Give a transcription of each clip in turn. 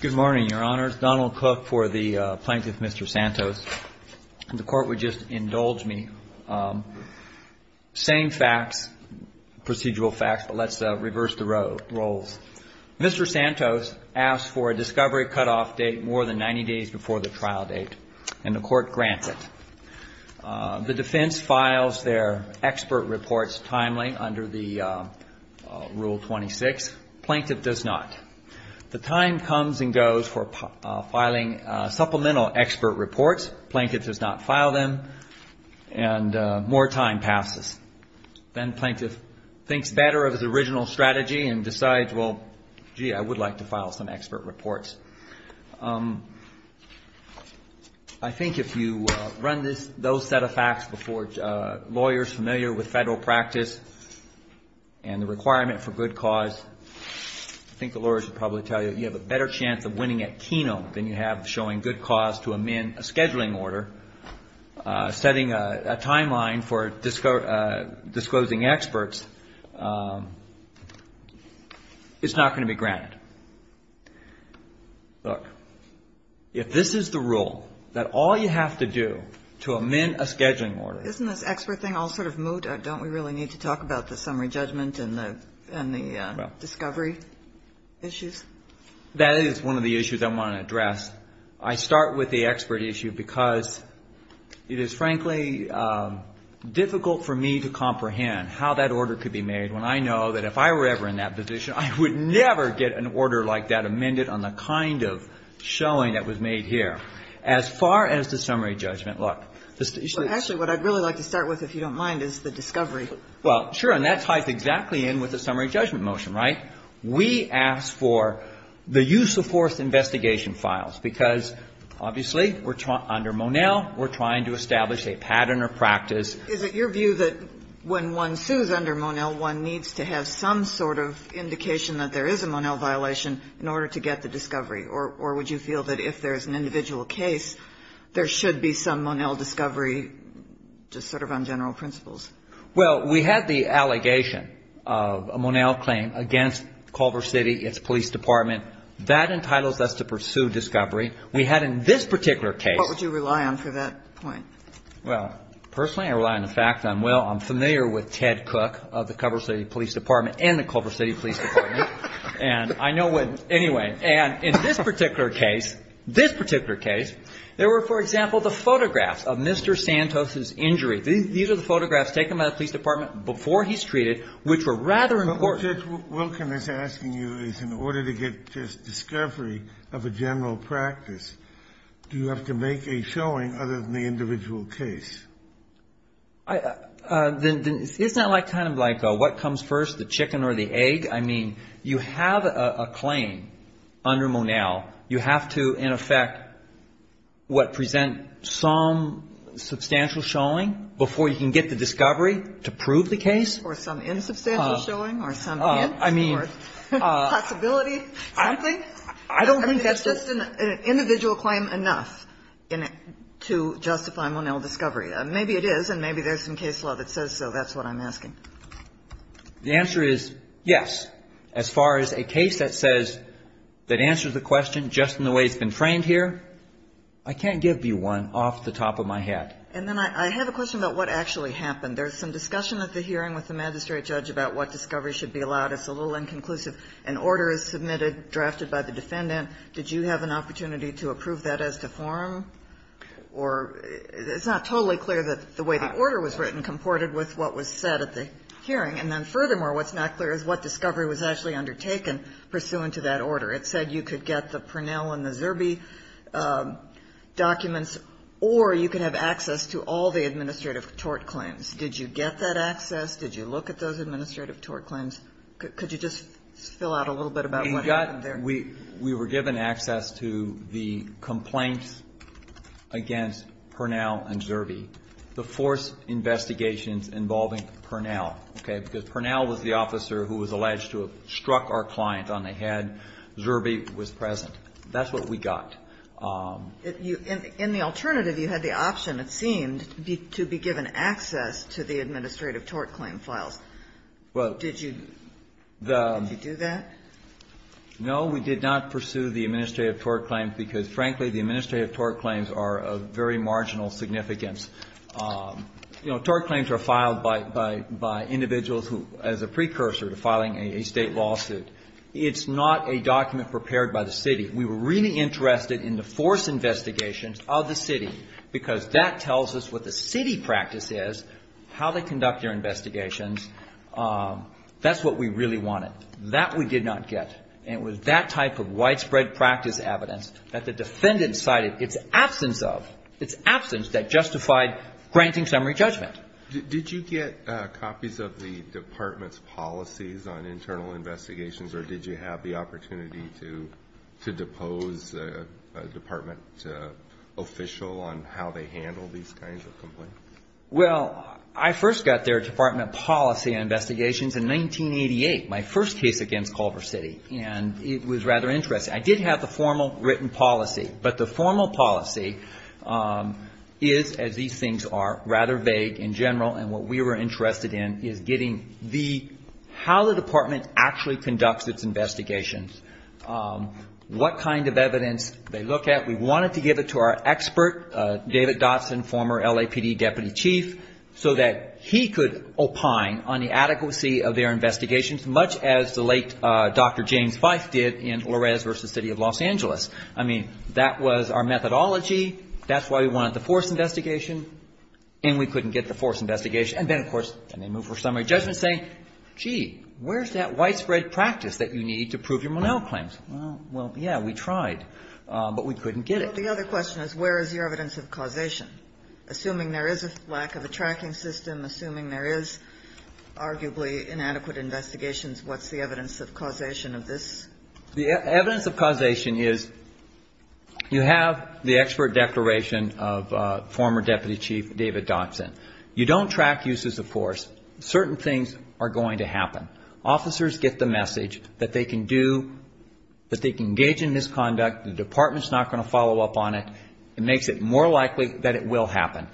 Good morning, Your Honors. Donald Cook for the Plaintiff, Mr. Santos. The Court would just indulge me. Same facts, procedural facts, but let's reverse the roles. Mr. Santos asked for a discovery cutoff date more than 90 days before the trial date, and the Court grants it. The defense files their expert reports timely under the Rule 26. Plaintiff does not. The time comes and goes for filing supplemental expert reports. Plaintiff does not file them, and more time passes. Then Plaintiff thinks better of his original strategy and decides, well, gee, I would like to file some expert reports. I think if you run those set of facts before lawyers familiar with federal practice and the requirement for good cause, I think the lawyers would probably tell you that you have a better chance of winning at keno than you have showing good cause to amend a scheduling order, setting a timeline for disclosing experts. It's not going to be granted. Look, if this is the rule, that all you have to do to amend a scheduling order. Isn't this expert thing all sort of moot? Don't we really need to talk about the summary judgment and the discovery issues? That is one of the issues I want to address. I start with the expert issue because it is, frankly, difficult for me to comprehend how that order could be made when I know that if I were ever in that position, I would never get an order like that amended on the kind of showing that was made here. As far as the summary judgment, look. Actually, what I'd really like to start with, if you don't mind, is the discovery. Well, sure, and that ties exactly in with the summary judgment motion, right? We ask for the use of force investigation files because, obviously, under Monell, we're trying to establish a pattern or practice. Is it your view that when one sues under Monell, one needs to have some sort of indication that there is a Monell violation in order to get the discovery? Or would you feel that if there is an individual case, there should be some Monell discovery just sort of on general principles? Well, we had the allegation of a Monell claim against Culver City, its police department. That entitles us to pursue discovery. We had in this particular case — What would you rely on for that point? Well, personally, I rely on the fact that, well, I'm familiar with Ted Cook of the Culver City Police Department and the Culver City Police Department. And I know when — anyway. And in this particular case, this particular case, there were, for example, the photographs of Mr. Santos's injury. These are the photographs taken by the police department before he's treated, which were rather important. But what Judge Wilken is asking you is in order to get discovery of a general practice, do you have to make a showing other than the individual case? Isn't that like kind of like what comes first, the chicken or the egg? I mean, you have a claim under Monell. You have to, in effect, what, present some substantial showing before you can get the discovery to prove the case? Or some insubstantial showing or some hint or possibility, something? I don't think that's just an individual claim enough to justify Monell discovery. Maybe it is, and maybe there's some case law that says so. That's what I'm asking. The answer is yes. As far as a case that says — that answers the question just in the way it's been framed here, I can't give you one off the top of my head. And then I have a question about what actually happened. There's some discussion at the hearing with the magistrate judge about what discovery should be allowed. It's a little inconclusive. An order is submitted, drafted by the defendant. Did you have an opportunity to approve that as to form? Or it's not totally clear that the way the order was written comported with what was said at the hearing. And then, furthermore, what's not clear is what discovery was actually undertaken pursuant to that order. It said you could get the Pernell and the Zerbe documents, or you could have access to all the administrative tort claims. Did you get that access? Did you look at those administrative tort claims? Could you just fill out a little bit about what happened there? We were given access to the complaints against Pernell and Zerbe, the force investigations involving Pernell, okay? Because Pernell was the officer who was alleged to have struck our client on the head. Zerbe was present. That's what we got. In the alternative, you had the option, it seemed, to be given access to the administrative tort claim files. Did you do that? No, we did not pursue the administrative tort claims because, frankly, the administrative tort claims are of very marginal significance. You know, tort claims are filed by individuals who, as a precursor to filing a State lawsuit. It's not a document prepared by the City. We were really interested in the force investigations of the City because that tells us what the City practice is, how they conduct their investigations. That's what we really wanted. That we did not get. And it was that type of widespread practice evidence that the defendant cited its absence of, its absence that justified granting summary judgment. Did you get copies of the Department's policies on internal investigations, or did you have the opportunity to depose a Department official on how they handled these kinds of complaints? Well, I first got their Department policy investigations in 1988, my first case against Culver City. And it was rather interesting. I did have the formal written policy. But the formal policy is, as these things are, rather vague in general. And what we were interested in is getting the, how the Department actually conducts its investigations, what kind of evidence they look at. We wanted to give it to our expert, David Dotson, former LAPD Deputy Chief, so that he could opine on the adequacy of their investigations, much as the late Dr. James Feist did in Loures v. City of Los Angeles. I mean, that was our methodology. That's why we wanted the force investigation. And we couldn't get the force investigation. And then, of course, they moved for summary judgment, saying, gee, where's that widespread practice that you need to prove your Monell claims? Well, yeah, we tried. But we couldn't get it. Well, the other question is, where is the evidence of causation? Assuming there is a lack of a tracking system, assuming there is arguably inadequate investigations, what's the evidence of causation of this? The evidence of causation is, you have the expert declaration of former Deputy Chief David Dotson. You don't track uses of force. Certain things are going to happen. Officers get the message that they can do, that they can engage in misconduct. The Department's not going to follow up on it. It makes it more likely that it will happen.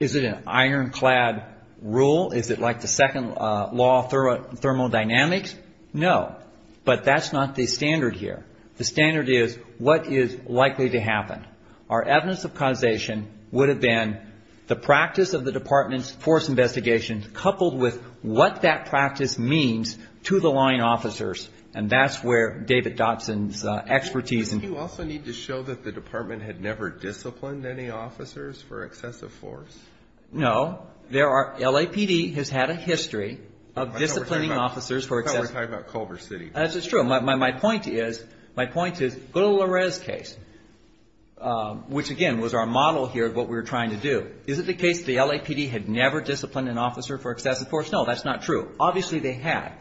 Is it an ironclad rule? Is it like the second law of thermodynamics? No. But that's not the standard here. The standard is, what is likely to happen? Our evidence of causation would have been the practice of the Department's force investigations, coupled with what that practice means to the line officers. And that's where David Dotson's expertise. Doesn't he also need to show that the Department had never disciplined any officers for excessive force? No. There are, LAPD has had a history of disciplining officers for excessive force. I thought we were talking about Culver City. That's true. My point is, my point is, go to Larez's case, which, again, was our model here of what we were trying to do. Is it the case the LAPD had never disciplined an officer for excessive force? No. That's not true. Obviously, they had.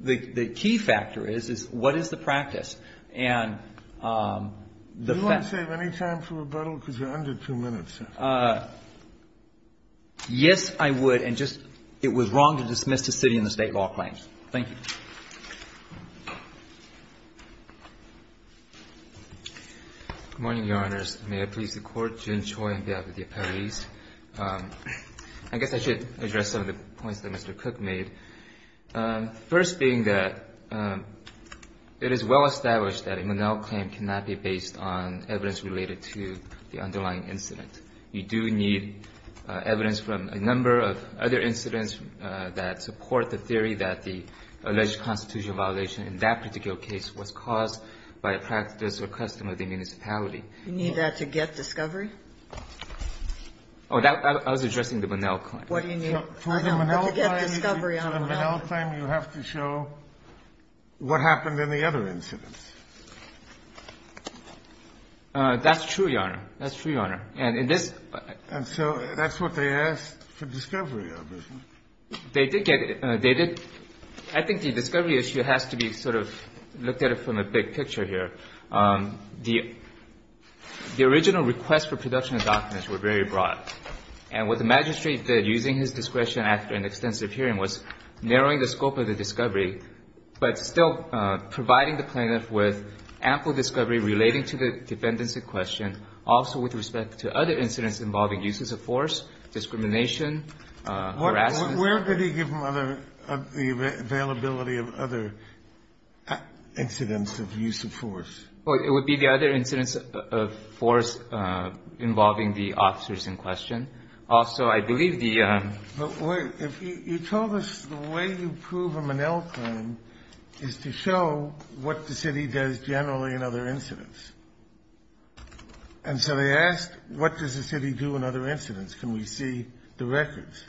The key factor is, is what is the practice? And the fact that you're under two minutes. Yes, I would. And just it was wrong to dismiss the city in the State law claims. Thank you. Good morning, Your Honors. May I please the Court? June Choi on behalf of the appellees. I guess I should address some of the points that Mr. Cook made. First being that it is well established that a Monell claim cannot be based on evidence related to the underlying incident. You do need evidence from a number of other incidents that support the theory that the alleged constitutional violation in that particular case was caused by a practice or custom of the municipality. You need that to get discovery? I was addressing the Monell claim. What do you need? For the Monell claim, you have to show what happened in the other incidents. That's true, Your Honor. That's true, Your Honor. And so that's what they asked for discovery of, isn't it? They did get it. They did. I think the discovery issue has to be sort of looked at it from a big picture here. The original request for production of documents were very broad. And what the magistrate did, using his discretion after an extensive hearing, was narrowing the scope of the discovery, but still providing the plaintiff with ample discovery relating to the defendants in question, also with respect to other incidents involving uses of force, discrimination, harassment. Where did he give them the availability of other incidents of use of force? It would be the other incidents of force involving the officers in question. Also, I believe the ---- But wait. You told us the way you prove a Monell claim is to show what the city does generally in other incidents. And so they asked, what does the city do in other incidents? Can we see the records?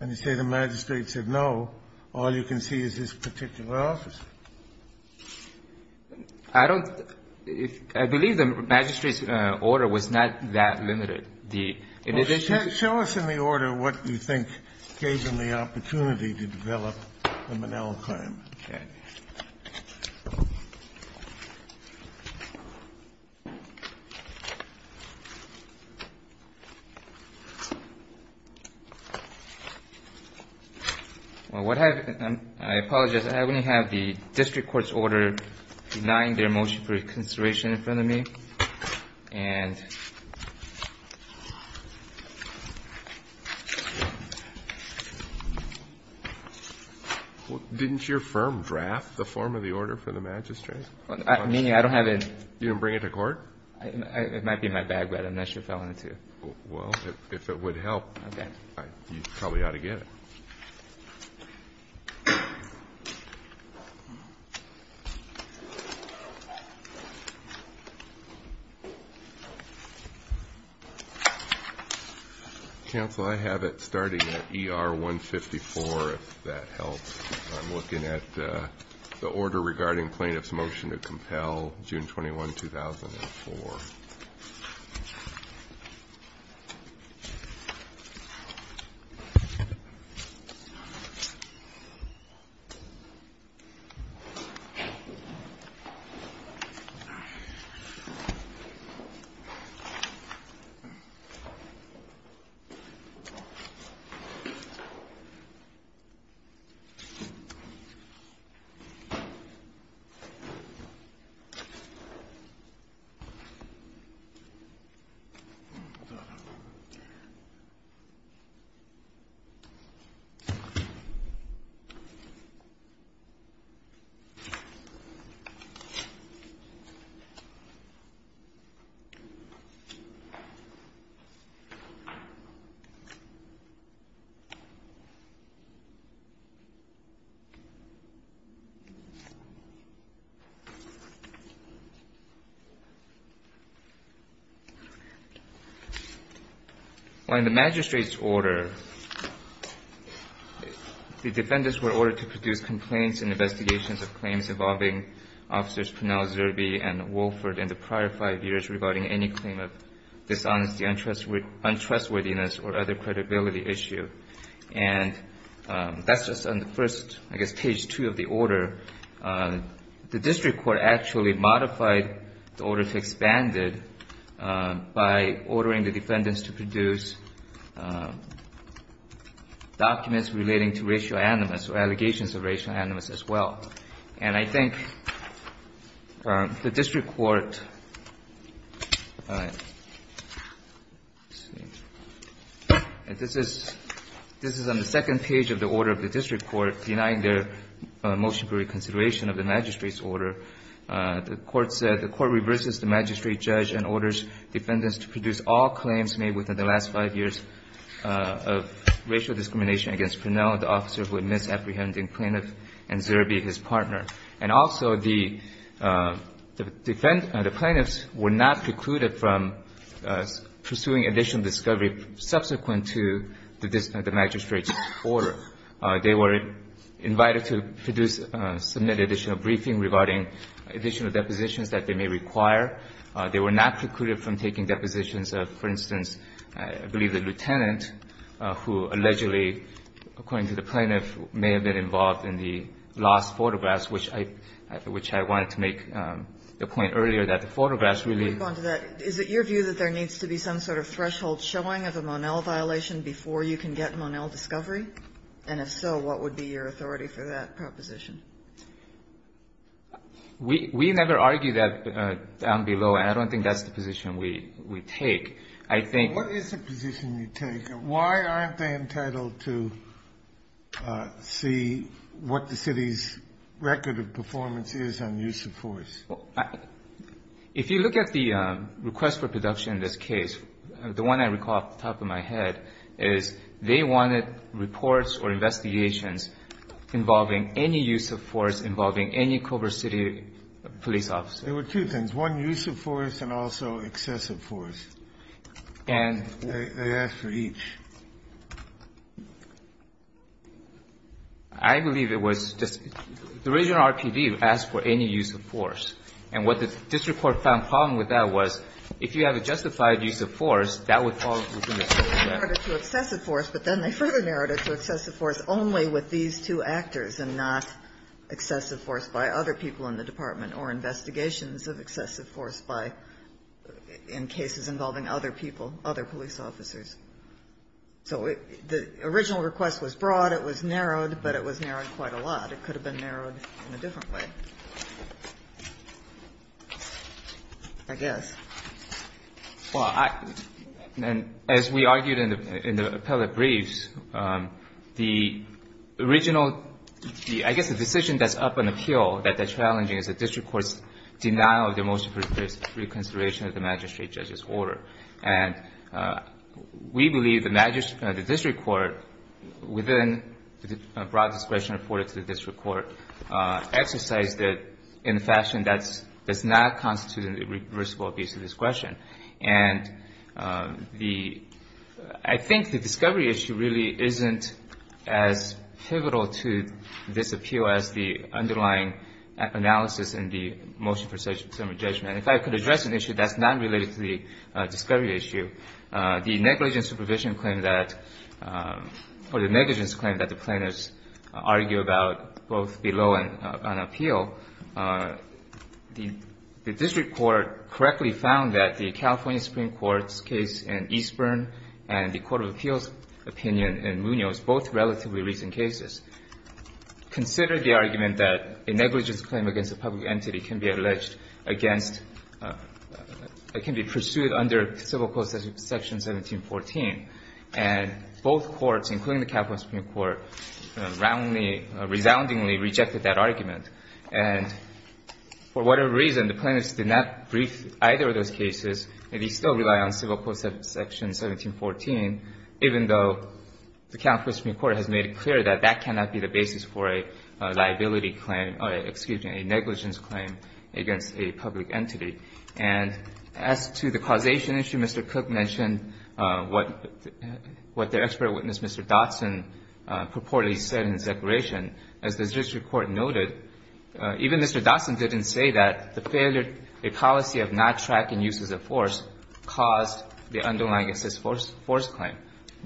And you say the magistrate said, no, all you can see is this particular officer. I don't ---- I believe the magistrate's order was not that limited. The ---- Well, show us in the order what you think gave them the opportunity to develop the Monell claim. Okay. Well, what have ---- I apologize. I only have the district court's order denying their motion for reconsideration in front of me. And ---- Well, didn't your firm draft the form of the order for the magistrate? I mean, I don't have it. You didn't bring it to court? It might be in my bag, but I'm not sure if I want it to. Well, if it would help. Okay. All right. You probably ought to get it. Counsel, I have it starting at ER 154, if that helps. I'm looking at the order regarding plaintiff's motion to compel, June 21, 2004. Thank you. Thank you. Thank you. Thank you. Thank you. Thank you. Thank you. Well, in the magistrate's order, the defendants were ordered to produce complaints and investigations of claims involving officers Pernell, Zerbe, and Wolford in the prior five years regarding any claim of dishonesty, untrustworthiness, or other credibility issue. And that's just on the first, I guess, page two of the order. The district court actually modified the order to expand it by ordering the defendants to produce documents relating to racial animus or allegations of racial animus as well. And I think the district court, this is on the second page of the order of the district court, denying their motion for reconsideration of the magistrate's order. The court said the court reverses the magistrate judge and orders defendants to produce all claims made within the last five years of racial discrimination against Pernell, the officer who admits apprehending plaintiff and Zerbe, his partner. And also, the defendants, the plaintiffs were not precluded from pursuing additional discovery subsequent to the magistrate's order. They were invited to produce, submit additional briefing regarding additional depositions that they may require. They were not precluded from taking depositions of, for instance, I believe the lieutenant, who allegedly, according to the plaintiff, may have been involved in the lost photographs, which I wanted to make the point earlier that the photographs really. Kagan. Is it your view that there needs to be some sort of threshold showing of a Monell violation before you can get Monell discovery? And if so, what would be your authority for that proposition? We never argue that down below, and I don't think that's the position we take. I think the position you take, why aren't they entitled to see what the city's record of performance is on use of force? If you look at the request for production in this case, the one I recall off the top of my head is they wanted reports or investigations involving any use of force, involving any Culver City police officer. There were two things, one use of force and also excessive force. And they asked for each. I believe it was just the original RPD asked for any use of force. And what the district court found wrong with that was if you have a justified use of force, that would fall within the scope of that. They narrowed it to excessive force, but then they further narrowed it to excessive force only with these two actors and not excessive force by other people in the department or investigations of excessive force by, in cases involving other people, other police officers. So the original request was broad. It was narrowed, but it was narrowed quite a lot. It could have been narrowed in a different way, I guess. Well, as we argued in the appellate briefs, the original, I guess the decision that's up on appeal that they're challenging is the district court's denial of the motion for reconsideration of the magistrate judge's order. And we believe the district court, within broad discretion reported to the district court, exercised it in a fashion that does not constitute a reversible abuse of discretion. And the — I think the discovery issue really isn't as pivotal to this appeal as the underlying analysis in the motion for summary judgment. If I could address an issue that's not related to the discovery issue, the negligence claim that the plaintiffs argue about both below and on appeal, the district court correctly found that the California Supreme Court's case in Eastburn and the Court of Appeals' opinion in Munoz, both relatively recent cases, considered the argument that a negligence claim against a public entity can be alleged against — can be pursued under Civil Code section 1714. And both courts, including the California Supreme Court, roundly, resoundingly rejected that argument. And for whatever reason, the plaintiffs did not brief either of those cases. They still rely on Civil Code section 1714, even though the California Supreme Court has made it clear that that cannot be the basis for a liability claim — excuse me, a negligence claim against a public entity. And as to the causation issue, Mr. Cook mentioned what the expert witness, Mr. Dotson, purportedly said in his declaration. As the district court noted, even Mr. Dotson didn't say that the failure — a policy of not tracking uses of force caused the underlying assist force claim.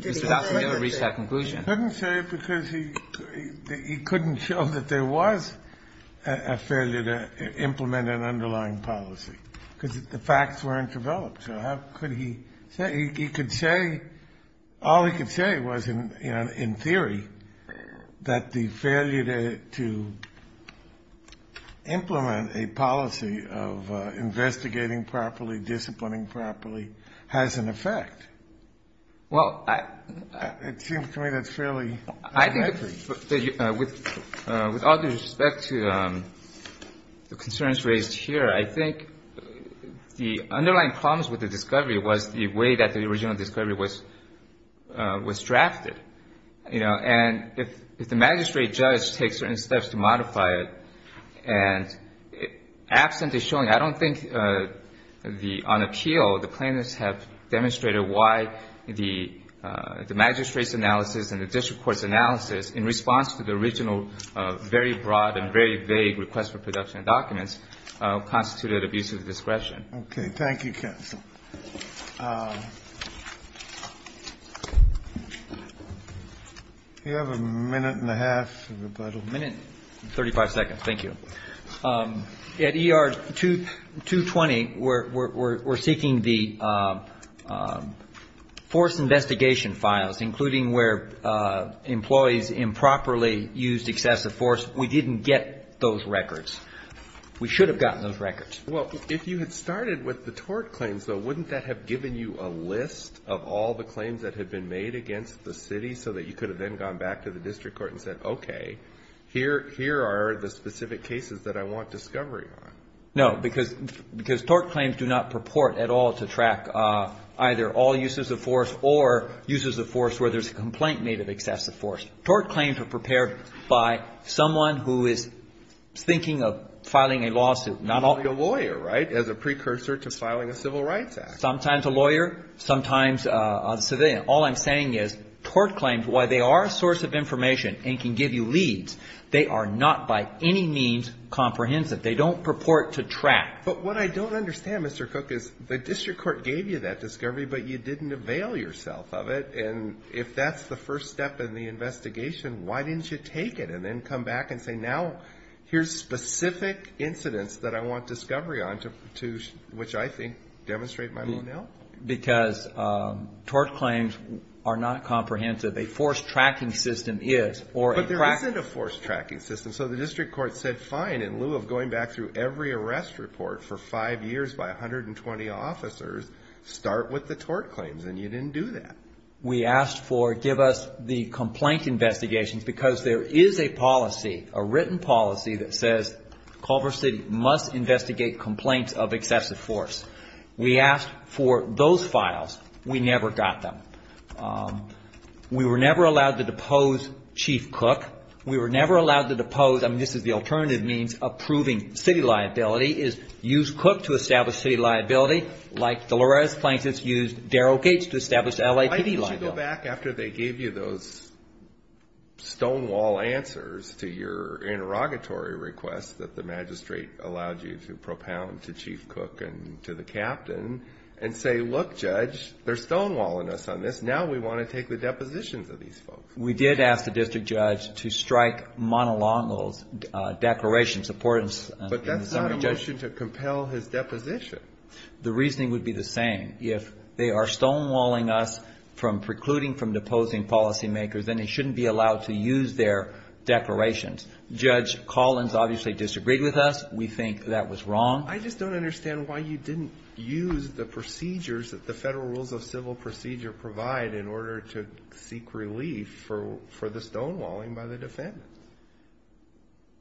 Mr. Dotson never reached that conclusion. I couldn't say because he couldn't show that there was a failure to implement an underlying policy, because the facts weren't developed. So how could he say? He could say — all he could say was, in theory, that the failure to implement a policy of investigating properly, disciplining properly, has an effect. Well, I — It seems to me that's fairly inaccurate. With all due respect to the concerns raised here, I think the underlying problems with the discovery was the way that the original discovery was drafted. You know, and if the magistrate judge takes certain steps to modify it, and absent the showing, I don't think the — on appeal, the plaintiffs have demonstrated why the magistrate's analysis and the district court's analysis, in response to the original very broad and very vague request for production of documents, constituted abusive discretion. Okay. Thank you, counsel. Do we have a minute and a half of rebuttal? A minute and 35 seconds. Thank you. At ER 220, we're seeking the force investigation files, including where employees improperly used excessive force. We didn't get those records. We should have gotten those records. Well, if you had started with the tort claims, though, wouldn't that have given you a list of all the claims that had been made against the city, so that you could have then gone back to the district court and said, okay, here are the specific cases that I want discovery on? No, because tort claims do not purport at all to track either all uses of force or uses of force where there's a complaint made of excessive force. Tort claims are prepared by someone who is thinking of filing a lawsuit. Not only a lawyer, right, as a precursor to filing a civil rights act. Sometimes a lawyer, sometimes a civilian. All I'm saying is tort claims, while they are a source of information and can give you leads, they are not by any means comprehensive. They don't purport to track. But what I don't understand, Mr. Cook, is the district court gave you that discovery, but you didn't avail yourself of it. And if that's the first step in the investigation, why didn't you take it and then come back and say, now here's specific incidents that I want discovery on, to which I think demonstrate my own health? Because tort claims are not comprehensive. A force tracking system is. But there isn't a force tracking system. So the district court said, fine, in lieu of going back through every arrest report for five years by 120 officers, start with the tort claims. And you didn't do that. We asked for, give us the complaint investigations because there is a policy, a written policy that says Culver City must investigate complaints of excessive force. We asked for those files. We never got them. We were never allowed to depose Chief Cook. We were never allowed to depose, I mean, this is the alternative means of proving city liability, is use Cook to establish city liability like Dolores Plankton used Darrell Gates to establish LAPD liability. Why didn't you go back after they gave you those stonewall answers to your interrogatory requests that the magistrate allowed you to propound to Chief Cook and to the captain and say, look, Judge, they're stonewalling us on this. Now we want to take the depositions of these folks. We did ask the district judge to strike monolingual declarations of importance. But that's not a motion to compel his deposition. The reasoning would be the same. If they are stonewalling us from precluding from deposing policymakers, then they shouldn't be allowed to use their declarations. Judge Collins obviously disagreed with us. We think that was wrong. I just don't understand why you didn't use the procedures that the Federal Rules of Civil Procedure provide in order to seek relief for the stonewalling by the defendants.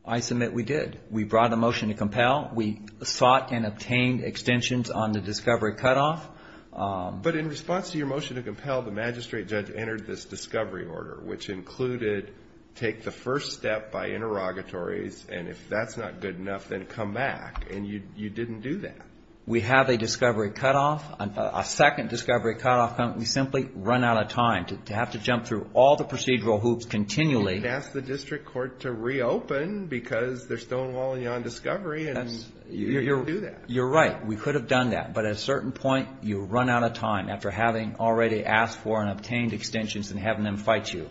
I submit we did. We brought a motion to compel. We sought and obtained extensions on the discovery cutoff. But in response to your motion to compel, the magistrate judge entered this discovery order, which included take the first step by interrogatories. And if that's not good enough, then come back. And you didn't do that. We have a discovery cutoff, a second discovery cutoff. We simply run out of time to have to jump through all the procedural hoops continually. You didn't ask the district court to reopen because they're stonewalling you on discovery. You didn't do that. You're right. We could have done that. But at a certain point, you run out of time after having already asked for and obtained extensions and having them fight you.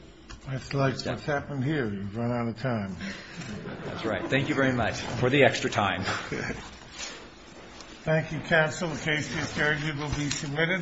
That's like what's happened here. You run out of time. That's right. Thank you very much for the extra time. Thank you, counsel. The case to be adjourned will be submitted.